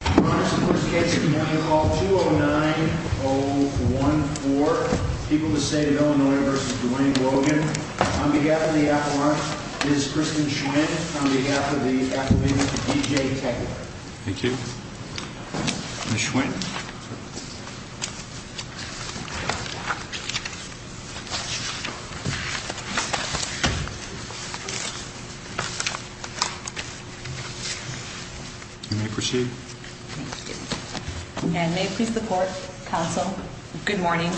On behalf of the Avalanche, this is Kristen Schwinn. On behalf of the Avalanche, D.J. Taggart. Thank you. Ms. Schwinn. You may proceed. And may it please the court, counsel, good morning.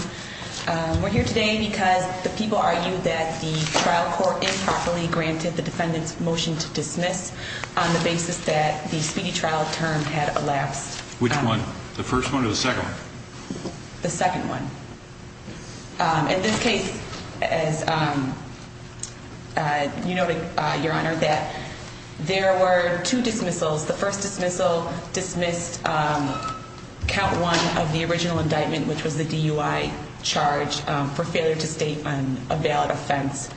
We're here today because the people argue that the trial court improperly granted the defendant's motion to dismiss on the basis that the speedy trial term had elapsed. Which one? The first one or the second? The second one. In this case, as you noted, your honor, that there were two dismissals. The first dismissal dismissed count one of the original indictment, which was the DUI charge for failure to state a valid offense.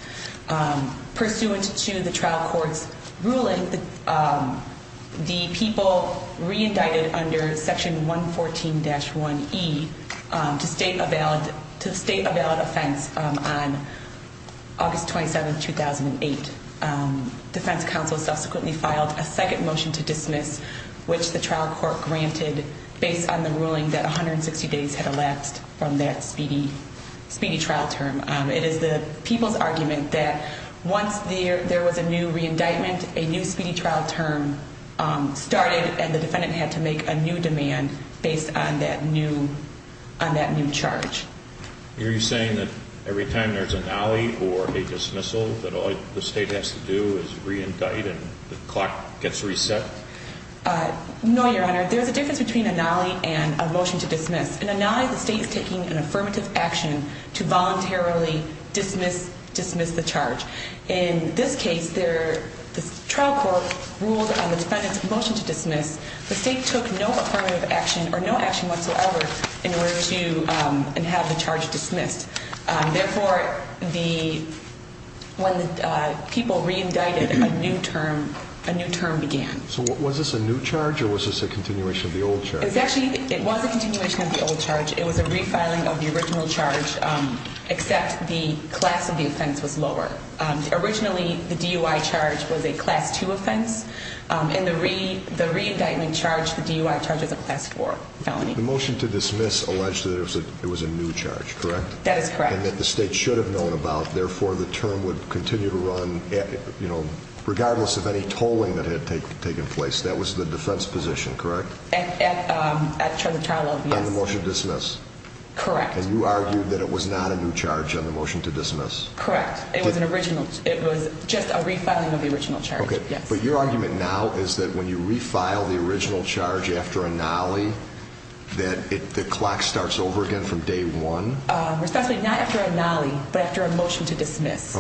Pursuant to the trial court's ruling, the people reindicted under section 114-1E to state a valid offense on August 27, 2008. And defense counsel subsequently filed a second motion to dismiss, which the trial court granted based on the ruling that 160 days had elapsed from that speedy trial term. It is the people's argument that once there was a new reindictment, a new speedy trial term started, and the defendant had to make a new demand based on that new charge. Are you saying that every time there's a nolly or a dismissal, that all the state has to do is reindict and the clock gets reset? No, your honor. There's a difference between a nolly and a motion to dismiss. In a nolly, the state is taking an affirmative action to voluntarily dismiss the charge. In this case, the trial court ruled on the defendant's motion to dismiss. The state took no affirmative action or no action whatsoever in order to have the charge dismissed. Therefore, when the people reindicted, a new term began. So was this a new charge or was this a continuation of the old charge? It was a continuation of the old charge. It was a refiling of the original charge, except the class of the offense was lower. Originally, the DUI charge was a class 2 offense. In the reindictment charge, the DUI charge was a class 4 felony. The motion to dismiss alleged that it was a new charge, correct? That is correct. And that the state should have known about. Therefore, the term would continue to run regardless of any tolling that had taken place. That was the defense position, correct? At the trial of, yes. On the motion to dismiss? Correct. And you argued that it was not a new charge on the motion to dismiss? Correct. It was just a refiling of the original charge, yes. But your argument now is that when you refile the original charge after a nolly, that the clock starts over again from day one? Not after a nolly, but after a motion to dismiss.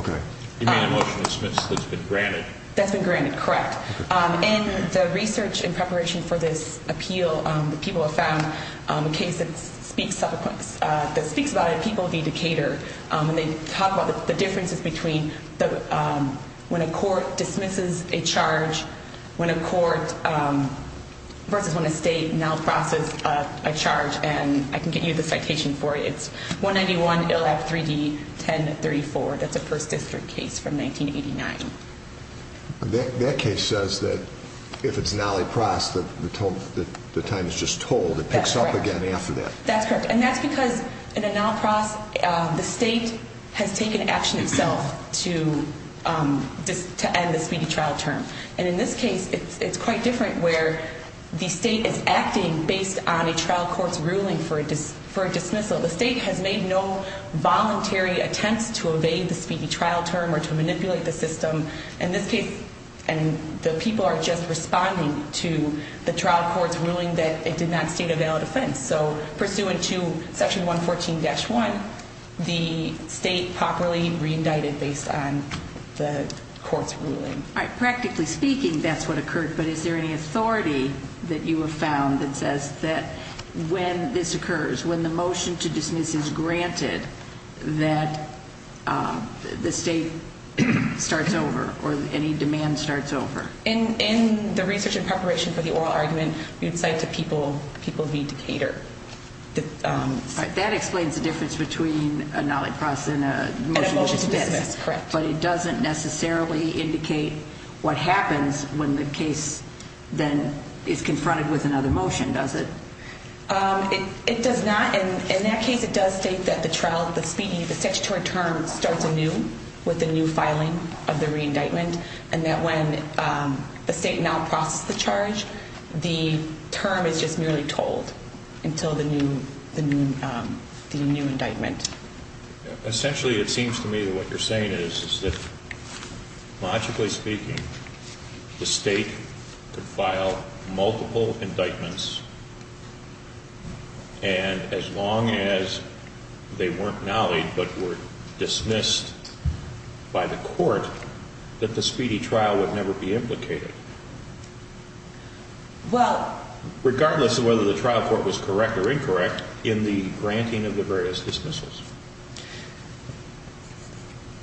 You mean a motion to dismiss that's been granted? That's been granted, correct. In the research in preparation for this appeal, the people have found a case that speaks about it. People v. Decatur. And they talk about the differences between when a court dismisses a charge versus when a state now processes a charge. And I can get you the citation for it. It's 191 Ill. Act. 3D. 1034. That's a first district case from 1989. That case says that if it's a nolly process, the time is just tolled. It picks up again after that. That's correct. And that's because in a nolly process, the state has taken action itself to end the speedy trial term. And in this case, it's quite different where the state is acting based on a trial court's ruling for a dismissal. The state has made no voluntary attempts to evade the speedy trial term or to manipulate the system. In this case, the people are just responding to the trial court's ruling that it did not state a valid offense. So pursuant to Section 114-1, the state properly re-indicted based on the court's ruling. All right. Practically speaking, that's what occurred. But is there any authority that you have found that says that when this occurs, when the motion to dismiss is granted, that the state starts over or any demand starts over? In the research and preparation for the oral argument, we would say to people, people need to cater. That explains the difference between a nolly process and a motion to dismiss. But it doesn't necessarily indicate what happens when the case then is confronted with another motion, does it? It does not. In that case, it does state that the trial, the speedy, the statutory term starts anew with the new filing of the re-indictment. And that when the state now processed the charge, the term is just merely told until the new indictment. Essentially, it seems to me that what you're saying is that, logically speaking, the state could file multiple indictments, and as long as they weren't nollied but were dismissed by the court, that the speedy trial would never be implicated. Regardless of whether the trial court was correct or incorrect in the granting of the various dismissals.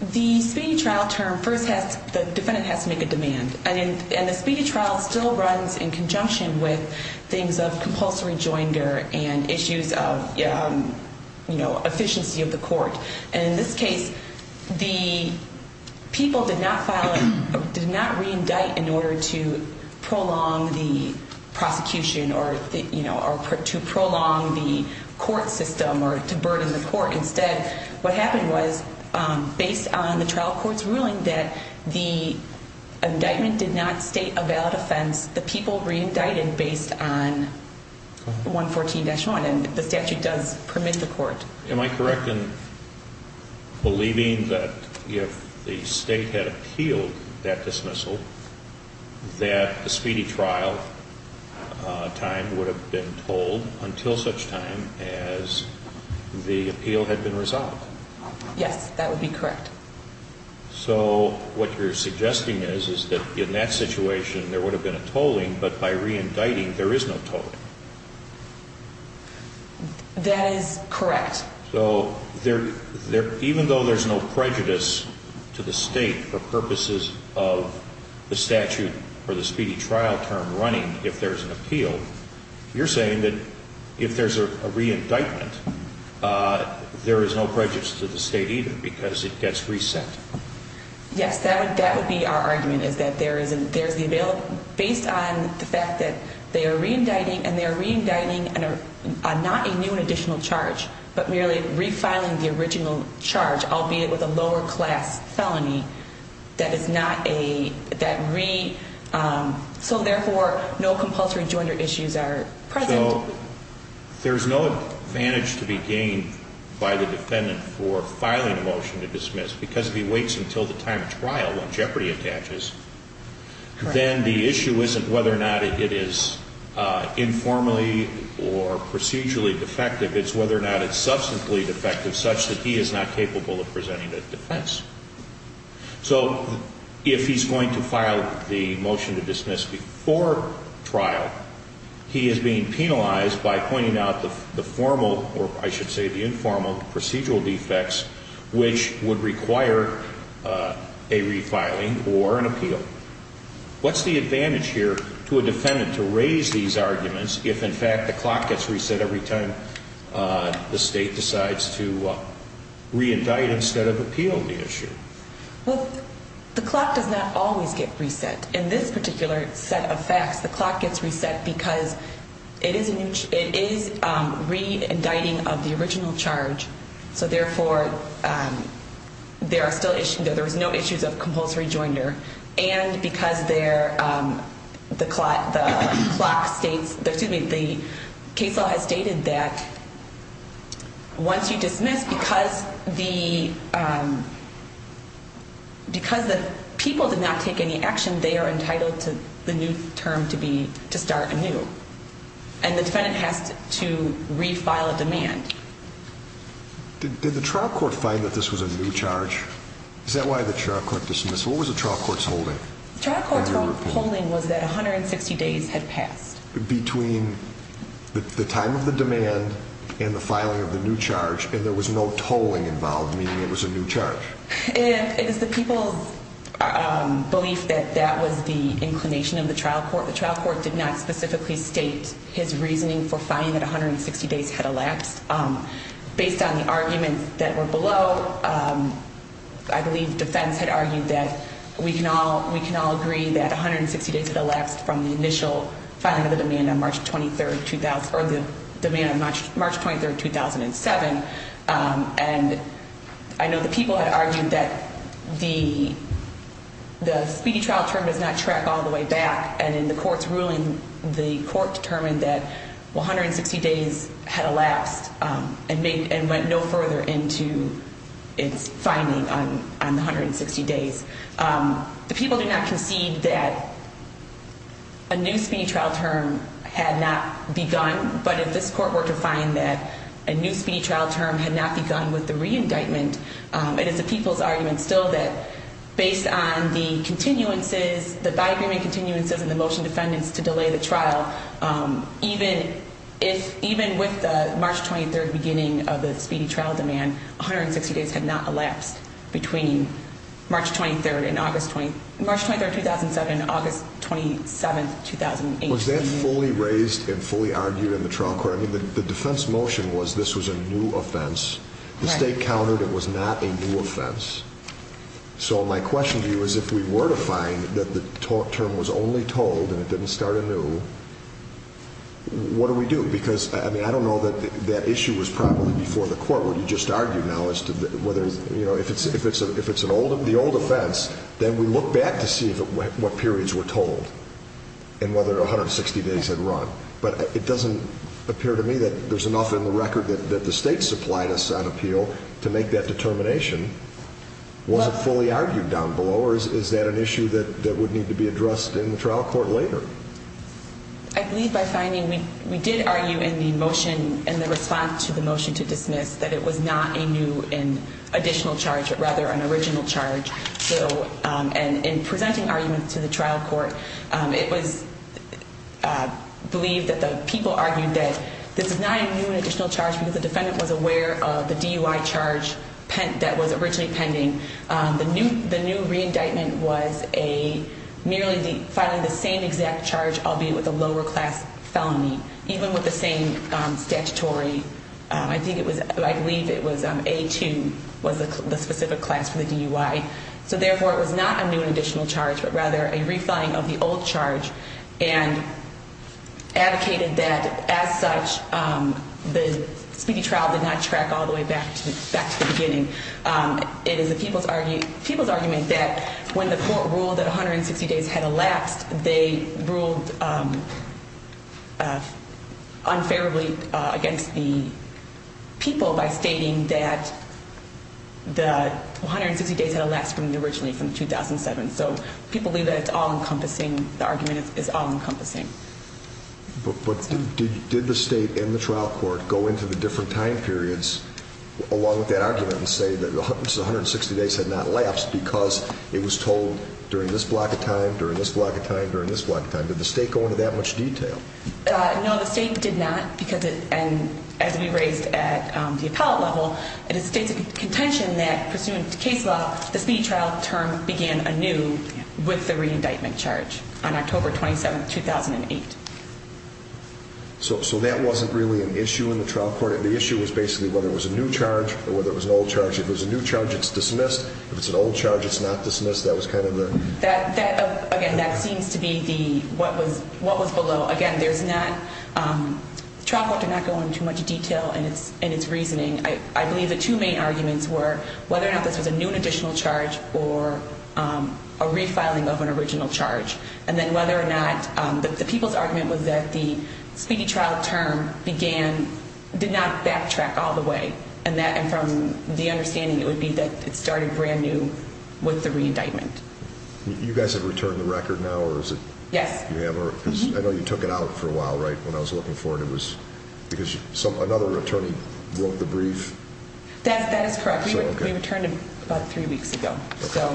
The speedy trial term first has, the defendant has to make a demand. And the speedy trial still runs in conjunction with things of compulsory joinder and issues of efficiency of the court. And in this case, the people did not re-indict in order to prolong the prosecution or to prolong the court system or to burden the court. Instead, what happened was, based on the trial court's ruling that the indictment did not state a valid offense, the people re-indicted based on 114-1, and the statute does permit the court. Am I correct in believing that if the state had appealed that dismissal, that the speedy trial time would have been told until such time as the appeal had been resolved? Yes, that would be correct. So, what you're suggesting is, is that in that situation, there would have been a tolling, but by re-indicting, there is no tolling. That is correct. So, even though there's no prejudice to the state for purposes of the statute or the speedy trial term running, if there's an appeal, you're saying that if there's a re-indictment, there is no prejudice to the state either because it gets reset. Yes, that would be our argument, is that based on the fact that they are re-indicting, and they are re-indicting not a new and additional charge, but merely re-filing the original charge, albeit with a lower class felony. So, therefore, no compulsory joinder issues are present. So, there's no advantage to be gained by the defendant for filing a motion to dismiss because if he waits until the time of trial when jeopardy attaches, then the issue isn't whether or not it is informally or procedurally defective. It's whether or not it's substantially defective such that he is not capable of presenting a defense. So, if he's going to file the motion to dismiss before trial, he is being penalized by pointing out the formal, or I should say the informal, procedural defects which would require a re-filing or an appeal. What's the advantage here to a defendant to raise these arguments if, in fact, the clock gets reset every time the state decides to re-indict instead of appeal the issue? Well, the clock does not always get reset. In this particular set of facts, the clock gets reset because it is re-indicting of the original charge. So, therefore, there is no issues of compulsory joinder. And because the case law has stated that once you dismiss, because the people did not take any action, they are entitled to the new term to start anew. And the defendant has to re-file a demand. Did the trial court find that this was a new charge? Is that why the trial court dismissed? What was the trial court's holding? The trial court's holding was that 160 days had passed. Between the time of the demand and the filing of the new charge, and there was no tolling involved, meaning it was a new charge? It is the people's belief that that was the inclination of the trial court. The trial court did not specifically state his reasoning for finding that 160 days had elapsed. Based on the arguments that were below, I believe defense had argued that we can all agree that 160 days had elapsed from the initial filing of the demand on March 23, 2007. And I know the people had argued that the speedy trial term does not track all the way back. And in the court's ruling, the court determined that 160 days had elapsed and went no further into its finding on the 160 days. The people did not concede that a new speedy trial term had not begun. But if this court were to find that a new speedy trial term had not begun with the re-indictment, it is the people's argument still that based on the continuances, the by-agreement continuances and the motion defendants to delay the trial, even with the March 23 beginning of the speedy trial demand, 160 days had not elapsed between March 23, 2007 and August 27, 2008. Was that fully raised and fully argued in the trial court? I mean, the defense motion was this was a new offense. The state countered it was not a new offense. So my question to you is if we were to find that the term was only told and it didn't start anew, what do we do? Because, I mean, I don't know that that issue was probably before the court what you just argued now as to whether, you know, if it's an old, the old offense, then we look back to see what periods were told and whether 160 days had run. But it doesn't appear to me that there's enough in the record that the state supplied us on appeal to make that determination. Was it fully argued down below or is that an issue that would need to be addressed in the trial court later? I believe by finding we did argue in the motion and the response to the motion to dismiss that it was not a new and additional charge, but rather an original charge. And in presenting arguments to the trial court, it was believed that the people argued that this is not a new and additional charge because the defendant was aware of the DUI charge that was originally pending. The new re-indictment was merely filing the same exact charge, albeit with a lower class felony, even with the same statutory. I think it was, I believe it was A2 was the specific class for the DUI. So therefore, it was not a new and additional charge, but rather a re-filing of the old charge and advocated that as such, the speedy trial did not track all the way back to the beginning. It is the people's argument that when the court ruled that 160 days had elapsed, they ruled unfairly against the people by stating that the 160 days had elapsed from the originally from 2007. So people believe that it's all encompassing. The argument is all encompassing. But did the state and the trial court go into the different time periods along with that argument and say that the 160 days had not elapsed because it was told during this block of time, during this block of time, during this block of time? Did the state go into that much detail? No, the state did not because it, and as we raised at the appellate level, the state's contention that pursuant to case law, the speedy trial term began anew with the re-indictment charge on October 27, 2008. So that wasn't really an issue in the trial court? The issue was basically whether it was a new charge or whether it was an old charge. If it was a new charge, it's dismissed. If it's an old charge, it's not dismissed. That was kind of the... That, again, that seems to be the, what was below. Again, there's not, the trial court did not go into too much detail in its reasoning. I believe the two main arguments were whether or not this was a new and additional charge or a refiling of an original charge. And then whether or not, the people's argument was that the speedy trial term began, did not backtrack all the way. And that, and from the understanding, it would be that it started brand new with the re-indictment. You guys have returned the record now, or is it... Yes. I know you took it out for a while, right, when I was looking for it. Because another attorney wrote the brief. That is correct. We returned it about three weeks ago. Okay.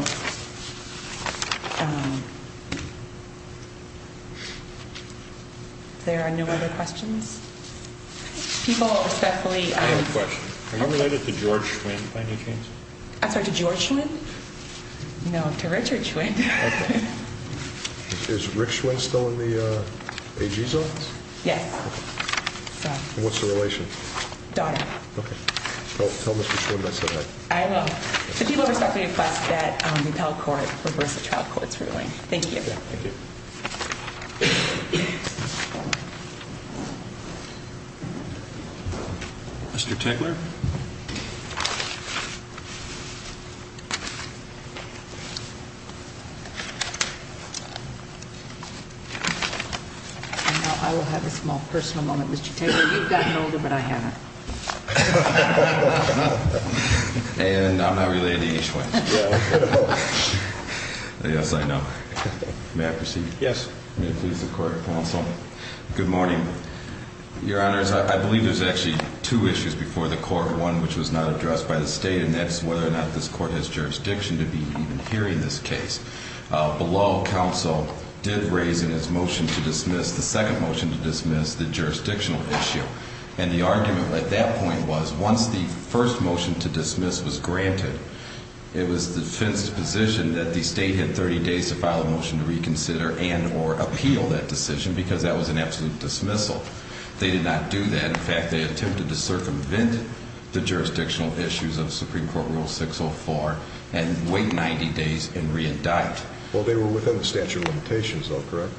If there are no other questions. People, especially... I have a question. Are you related to George Schwinn by any chance? I'm sorry, to George Schwinn? No, to Richard Schwinn. Okay. Is Rick Schwinn still in the AG's office? Yes. Okay. And what's the relation? Daughter. Okay. Tell Mr. Schwinn I said hi. I will. The people respectfully request that the appellate court reverse the trial court's ruling. Thank you. Thank you. Mr. Tegeler? Mr. Tegeler? I will have a small personal moment, Mr. Tegeler. You've gotten older, but I haven't. And I'm not related to H. Schwinn. Yes, I know. May I proceed? Yes. May it please the court, counsel. Good morning. Your Honor, I believe there's actually two issues before the court. One, which was not addressed by the state, and that's whether or not this court has jurisdiction to be even hearing this case. Below, counsel did raise in its motion to dismiss, the second motion to dismiss, the jurisdictional issue. And the argument at that point was once the first motion to dismiss was granted, it was the defense's position that the state had 30 days to file a motion to reconsider and or appeal that decision, because that was an absolute dismissal. They did not do that. In fact, they attempted to circumvent the jurisdictional issues of Supreme Court Rule 604 and wait 90 days and re-indict. Well, they were within the statute of limitations, though, correct?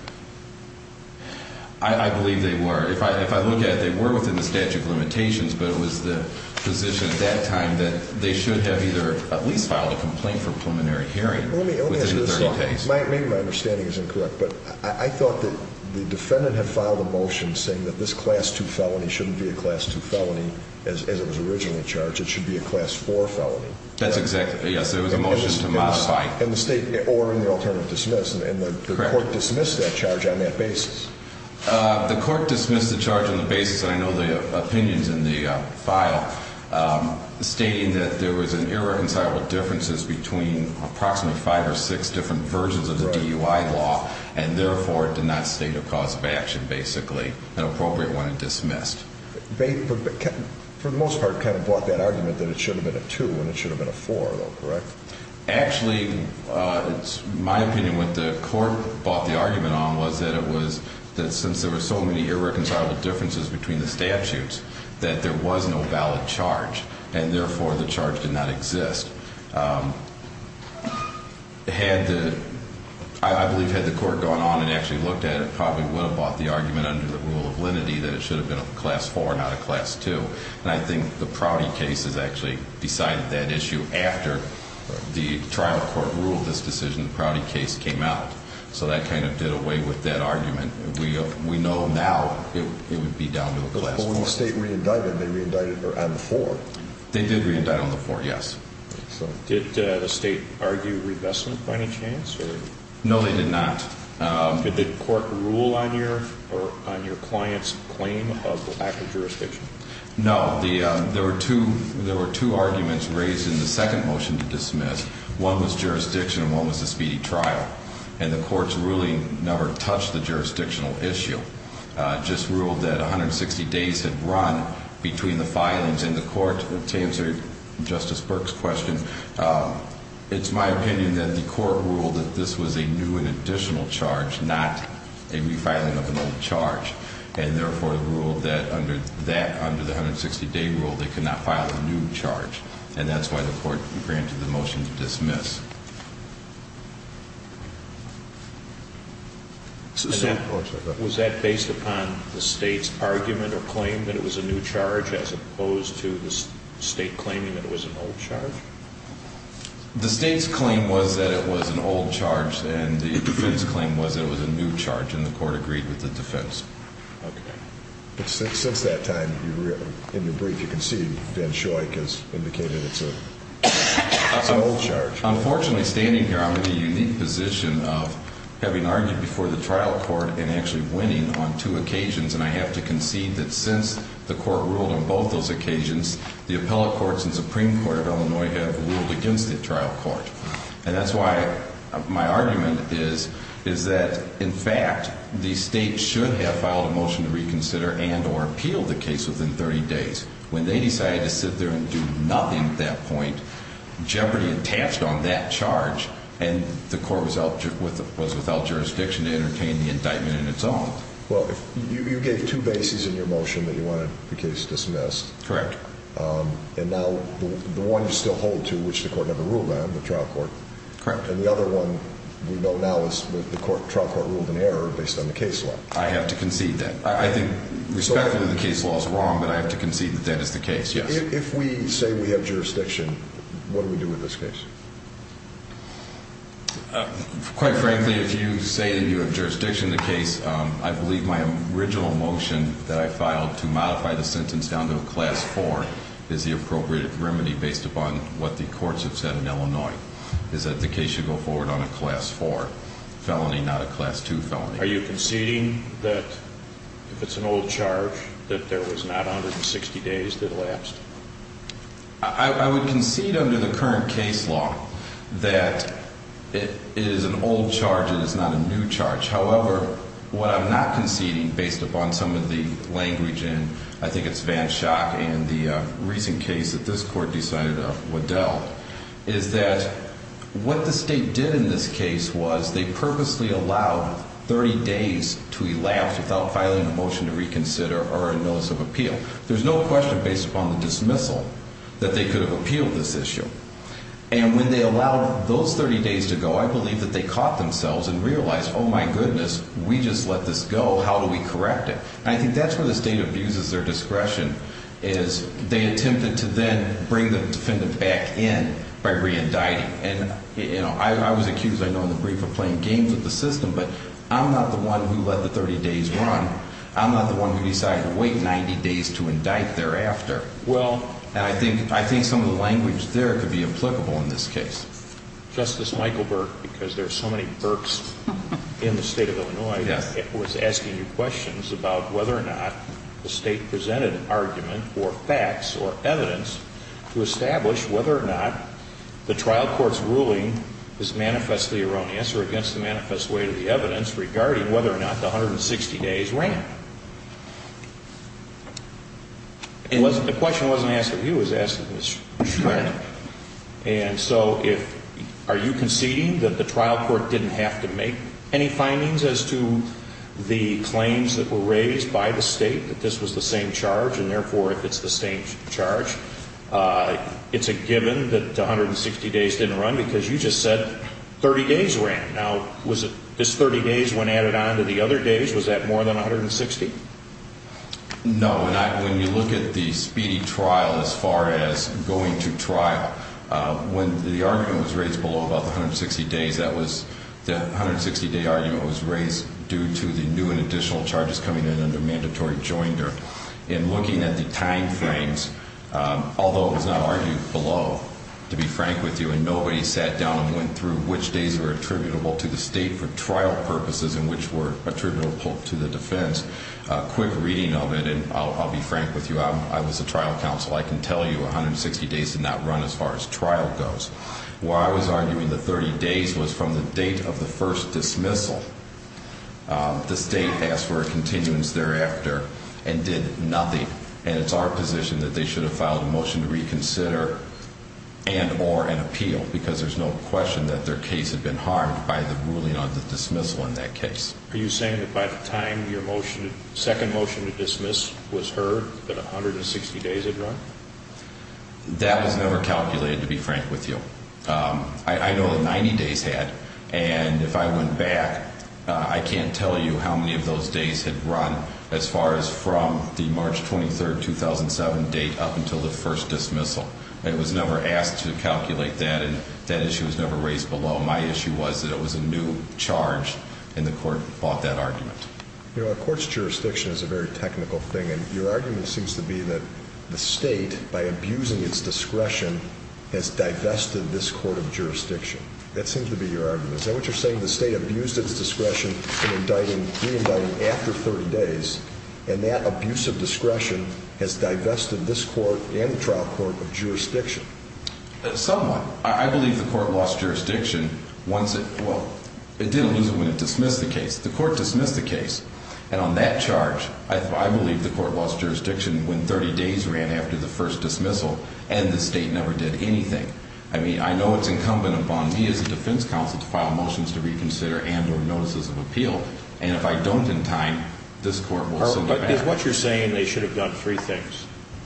I believe they were. If I look at it, they were within the statute of limitations, but it was the position at that time that they should have either at least filed a complaint for preliminary hearing within the 30 days. Maybe my understanding is incorrect, but I thought that the defendant had filed a motion saying that this Class 2 felony shouldn't be a Class 2 felony as it was originally charged. It should be a Class 4 felony. That's exactly, yes. It was a motion to modify. In the state, or in the alternative dismiss, and the court dismissed that charge on that basis. The court dismissed the charge on the basis, and I know the opinions in the file, stating that there was irreconcilable differences between approximately five or six different versions of the DUI law, and therefore, it did not state a cause of action, basically, an appropriate one, and dismissed. They, for the most part, kind of bought that argument that it should have been a 2 and it should have been a 4, though, correct? Actually, my opinion, what the court bought the argument on was that it was, since there were so many irreconcilable differences between the statutes, that there was no valid charge, and therefore, the charge did not exist. Had the, I believe had the court gone on and actually looked at it, probably would have bought the argument under the rule of lenity that it should have been a Class 4 and not a Class 2. And I think the Prouty case has actually decided that issue after the trial court ruled this decision, the Prouty case came out. So that kind of did away with that argument. We know now it would be down to a Class 4. But when the state re-indicted, they re-indicted on the 4. They did re-indict on the 4, yes. Did the state argue revestment by any chance? No, they did not. Did the court rule on your client's claim of lack of jurisdiction? One was jurisdiction and one was a speedy trial. And the court's ruling never touched the jurisdictional issue. It just ruled that 160 days had run between the filings and the court. To answer Justice Burke's question, it's my opinion that the court ruled that this was a new and additional charge, not a refiling of an old charge. And therefore, it ruled that under that, under the 160-day rule, they could not file a new charge. And that's why the court granted the motion to dismiss. Was that based upon the state's argument or claim that it was a new charge as opposed to the state claiming that it was an old charge? The state's claim was that it was an old charge, and the defense's claim was that it was a new charge, and the court agreed with the defense. But since that time, in your brief, you can see Ben Shoik has indicated it's an old charge. Unfortunately, standing here, I'm in the unique position of having argued before the trial court and actually winning on two occasions. And I have to concede that since the court ruled on both those occasions, the appellate courts and Supreme Court of Illinois have ruled against the trial court. And that's why my argument is that, in fact, the state should have filed a motion to reconsider and or appeal the case within 30 days. When they decided to sit there and do nothing at that point, jeopardy attached on that charge, and the court was without jurisdiction to entertain the indictment in its own. Well, you gave two bases in your motion that you wanted the case dismissed. Correct. And now the one you still hold to, which the court never ruled on, the trial court. Correct. And the other one we know now is the trial court ruled in error based on the case law. I have to concede that. I think, respectfully, the case law is wrong, but I have to concede that that is the case, yes. If we say we have jurisdiction, what do we do with this case? Quite frankly, if you say that you have jurisdiction in the case, I believe my original motion that I filed to modify the sentence down to a Class 4 is the appropriate remedy based upon what the courts have said in Illinois, is that the case should go forward on a Class 4 felony, not a Class 2 felony. Are you conceding that, if it's an old charge, that there was not 160 days that elapsed? I would concede under the current case law that it is an old charge and it's not a new charge. However, what I'm not conceding, based upon some of the language and I think it's Vanshock and the recent case that this court decided, Waddell, is that what the state did in this case was they purposely allowed 30 days to elapse without filing a motion to reconsider or a notice of appeal. There's no question, based upon the dismissal, that they could have appealed this issue. And when they allowed those 30 days to go, I believe that they caught themselves and realized, oh my goodness, we just let this go, how do we correct it? And I think that's where the state abuses their discretion, is they attempted to then bring the defendant back in by re-indicting. I was accused, I know, in the brief of playing games with the system, but I'm not the one who let the 30 days run. I'm not the one who decided to wait 90 days to indict thereafter. And I think some of the language there could be applicable in this case. Justice Michael Burke, because there are so many Burkes in the state of Illinois, was asking you questions about whether or not the state presented an argument or facts or evidence to establish whether or not the trial court's ruling is manifestly erroneous or against the manifest weight of the evidence regarding whether or not the 160 days ran. The question wasn't asked of you, it was asked of Ms. Schreck. And so if, are you conceding that the trial court didn't have to make any findings as to the claims that were raised by the state, that this was the same charge, and therefore it's the same charge? It's a given that the 160 days didn't run because you just said 30 days ran. Now, was this 30 days when added on to the other days, was that more than 160? No. And when you look at the speedy trial as far as going to trial, when the argument was raised below about the 160 days, that was, the 160-day argument was raised due to the new and additional charges coming in under mandatory joinder. In looking at the time frames, although it was not argued below, to be frank with you, and nobody sat down and went through which days were attributable to the state for trial purposes and which were attributable to the defense. A quick reading of it, and I'll be frank with you, I was a trial counsel, I can tell you 160 days did not run as far as trial goes. Where I was arguing the 30 days was from the date of the first dismissal. The state asked for a continuance thereafter and did nothing, and it's our position that they should have filed a motion to reconsider and or an appeal because there's no question that their case had been harmed by the ruling on the dismissal in that case. Are you saying that by the time your motion, second motion to dismiss was heard, that 160 days had run? That was never calculated, to be frank with you. I know the 90 days had, and if I went back, I can't tell you how many of those days had run as far as from the March 23rd, 2007 date up until the first dismissal. It was never asked to calculate that, and that issue was never raised below. My issue was that it was a new charge, and the court fought that argument. You know, a court's jurisdiction is a very technical thing, and your argument seems to be that the state, by abusing its discretion, has divested this court of jurisdiction. That seems to be your argument. Is that what you're saying, the state abused its discretion in re-indicting after 30 days, and that abuse of discretion has divested this court and the trial court of jurisdiction? Somewhat. I believe the court lost jurisdiction once it, well, it didn't lose it when it dismissed the case. The court dismissed the case, and on that charge, I believe the court lost jurisdiction when 30 days ran after the first dismissal, and the state never did anything. I mean, I know it's incumbent upon me as a defense counsel to file motions to reconsider and or notices of appeal, and if I don't in time, this court will send it back. Is what you're saying they should have done three things,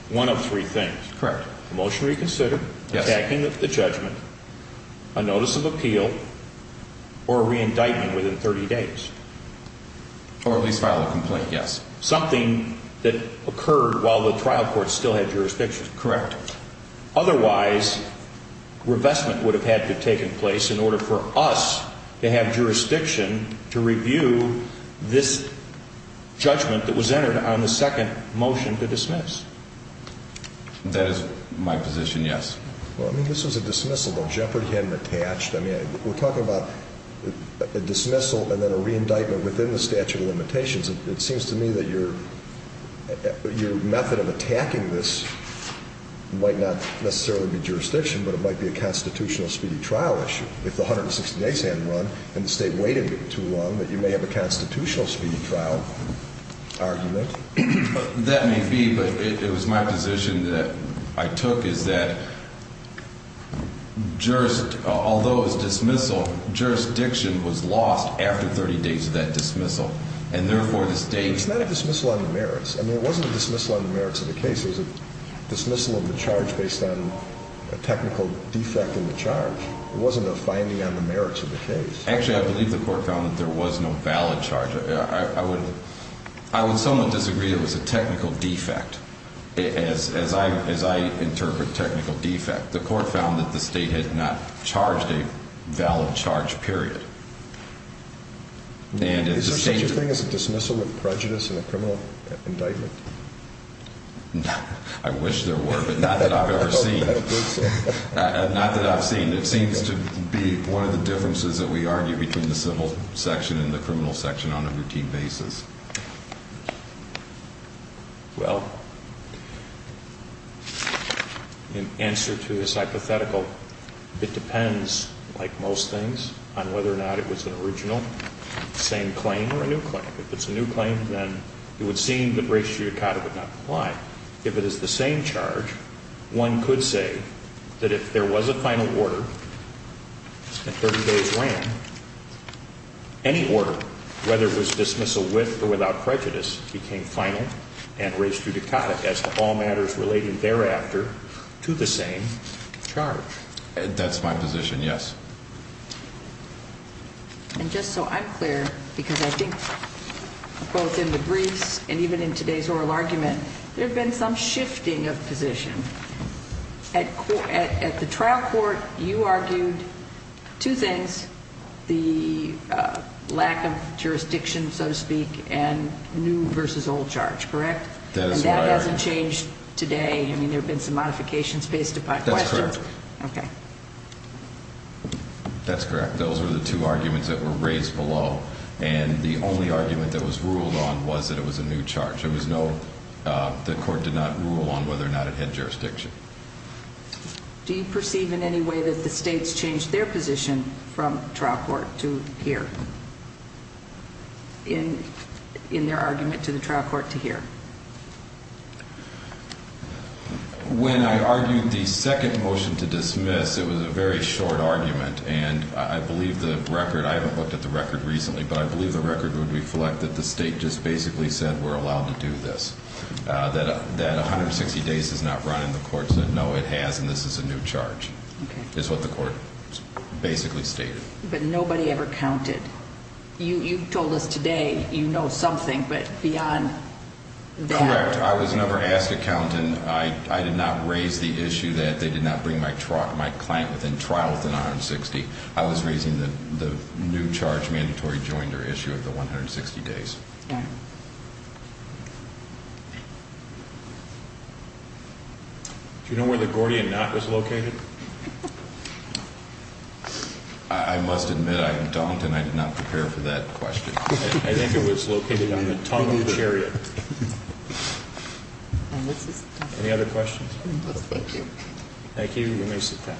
one of three things? Correct. A motion to reconsider, attacking the judgment, a notice of appeal, or a re-indictment within 30 days? Or at least file a complaint, yes. Something that occurred while the trial court still had jurisdiction. Correct. Otherwise, revestment would have had to have taken place in order for us to have jurisdiction to review this judgment that was entered on the second motion to dismiss. That is my position, yes. Well, I mean, this was a dismissal, though. Jeopardy hadn't attached. I mean, we're talking about a dismissal and then a re-indictment within the statute of limitations. It seems to me that your method of attacking this might not necessarily be jurisdiction, but it might be a constitutional speedy trial issue. If the 160 days hadn't run and the state waited too long, that you may have a constitutional speedy trial argument. That may be, but it was my position that I took, is that although it was dismissal, jurisdiction was lost after 30 days of that dismissal. And therefore, the state — It's not a dismissal on the merits. I mean, it wasn't a dismissal on the merits of the case. It was a dismissal of the charge based on a technical defect in the charge. It wasn't a finding on the merits of the case. Actually, I believe the court found that there was no valid charge. I would somewhat disagree it was a technical defect, as I interpret technical defect. The court found that the state had not charged a valid charge, period. Is there such a thing as a dismissal with prejudice in a criminal indictment? I wish there were, but not that I've ever seen. Not that I've seen. It seems to be one of the differences that we argue between the civil section and the criminal section on a routine basis. Well, in answer to this hypothetical, it depends, like most things, on whether or not it was an original same claim or a new claim. If it's a new claim, then it would seem that res judicata would not apply. If it is the same charge, one could say that if there was a final order, and 30 days ran, any order, whether it was dismissal with or without prejudice, became final and res judicata as to all matters related thereafter to the same charge. That's my position, yes. And just so I'm clear, because I think both in the briefs and even in today's oral argument, there have been some shifting of position. At the trial court, you argued two things, the lack of jurisdiction, so to speak, and new versus old charge, correct? That is my argument. And that hasn't changed today. I mean, there have been some modifications based upon questions. That's correct. Okay. That's correct. Those were the two arguments that were raised below. And the only argument that was ruled on was that it was a new charge. There was no, the court did not rule on whether or not it had jurisdiction. Do you perceive in any way that the states changed their position from trial court to here, in their argument to the trial court to here? When I argued the second motion to dismiss, it was a very short argument. And I believe the record, I haven't looked at the record recently, but I believe the record would reflect that the state just basically said, we're allowed to do this, that 160 days is not running. The court said, no, it has, and this is a new charge, is what the court basically stated. But nobody ever counted. You told us today you know something, but beyond that. Correct. I was never asked to count, and I did not raise the issue that they did not bring my client within trial within 160. I was raising the new charge, mandatory joinder issue of the 160 days. Yeah. Do you know where the Gordian knot was located? I must admit, I don't, and I did not prepare for that question. I think it was located on the tongue of the chariot. Any other questions? Thank you. Thank you. You may sit down.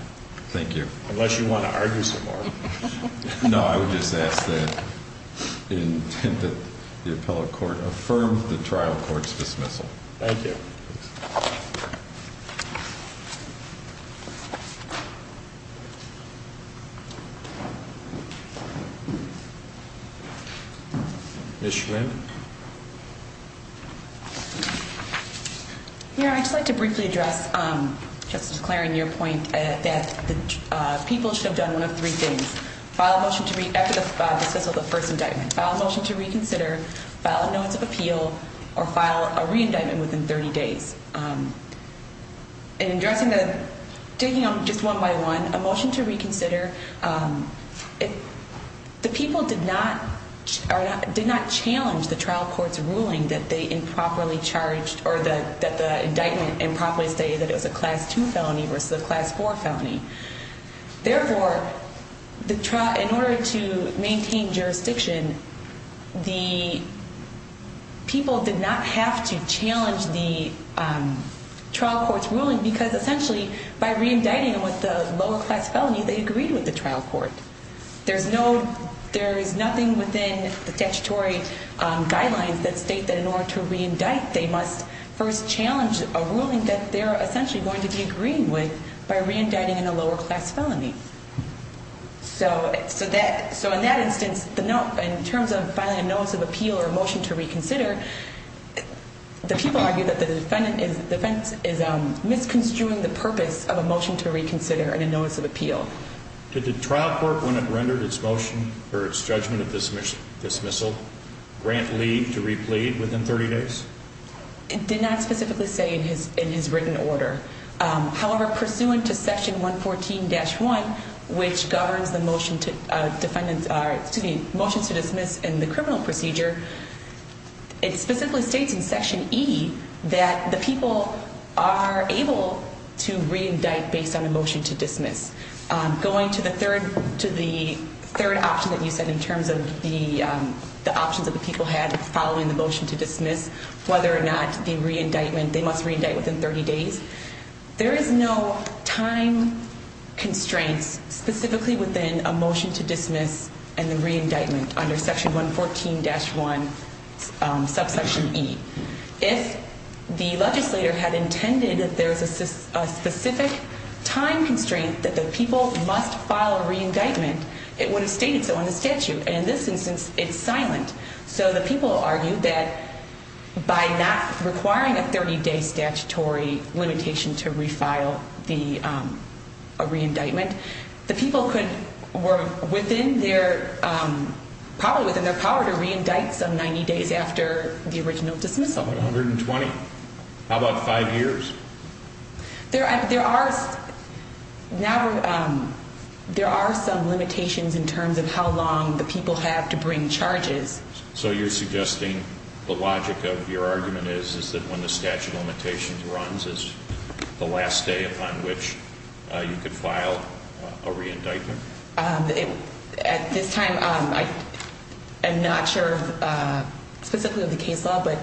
Thank you. Unless you want to argue some more. No, I would just ask that the appellate court affirm the trial court's dismissal. Thank you. Thank you. Ms. Schwinn. Yeah, I'd just like to briefly address, Justice Clarence, your point that the people should have done one of three things. File a motion to, after the dismissal of the first indictment, file a motion to reconsider, file a notice of appeal, or file a re-indictment within 30 days. In addressing the, taking them just one by one, a motion to reconsider, the people did not challenge the trial court's ruling that they improperly charged, or that the indictment improperly stated that it was a class 2 felony versus a class 4 felony. Therefore, the trial, in order to maintain jurisdiction, the people did not have to challenge the trial court's ruling, because essentially, by re-indicting them with a lower class felony, they agreed with the trial court. There's no, there is nothing within the statutory guidelines that state that in order to re-indict, they must first challenge a ruling that they're essentially going to be agreeing with by re-indicting in a lower class felony. So in that instance, in terms of filing a notice of appeal or a motion to reconsider, the people argue that the defendant is misconstruing the purpose of a motion to reconsider and a notice of appeal. Did the trial court, when it rendered its motion for its judgment of dismissal, grant Lee to re-plead within 30 days? It did not specifically say in his written order. However, pursuant to section 114-1, which governs the motion to defendants, excuse me, motions to dismiss in the criminal procedure, it specifically states in section E that the people are able to re-indict based on a motion to dismiss. Going to the third option that you said in terms of the options that the people had following the motion to dismiss, whether or not the re-indictment, they must re-indict within 30 days, there is no time constraints specifically within a motion to dismiss and the re-indictment under section 114-1 subsection E. If the legislator had intended that there is a specific time constraint that the people must file a re-indictment, it would have stated so in the statute. And in this instance, it's silent. So the people argue that by not requiring a 30-day statutory limitation to re-file a re-indictment, the people were probably within their power to re-indict some 90 days after the original dismissal. 120. How about five years? There are some limitations in terms of how long the people have to bring charges. So you're suggesting the logic of your argument is that when the statute of limitations runs, it's the last day upon which you could file a re-indictment? At this time, I'm not sure specifically of the case law, but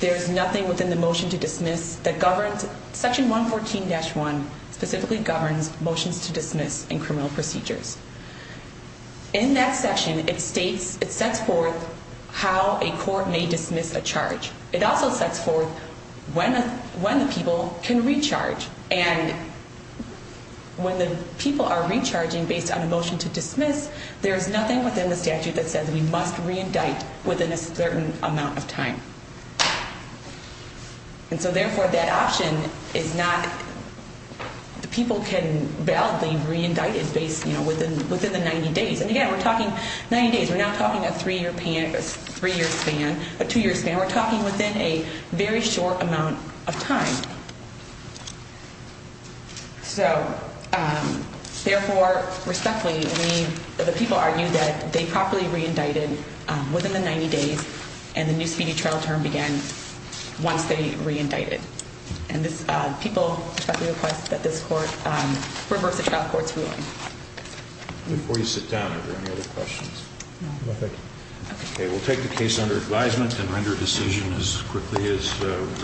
there's nothing within the motion to dismiss that governs section 114-1 specifically governs motions to dismiss in criminal procedures. In that section, it sets forth how a court may dismiss a charge. It also sets forth when the people can recharge. And when the people are recharging based on a motion to dismiss, there is nothing within the statute that says we must re-indict within a certain amount of time. And so, therefore, that option is not the people can validly re-indict based within the 90 days. And, again, we're talking 90 days. We're not talking a three-year span, a two-year span. We're talking within a very short amount of time. So, therefore, respectfully, the people argue that they properly re-indicted within the 90 days and the new speedy trial term began once they re-indicted. And people respectfully request that this court reverse the trial court's ruling. Before you sit down, are there any other questions? No, thank you. Okay, we'll take the case under advisement and render a decision as quickly as we can.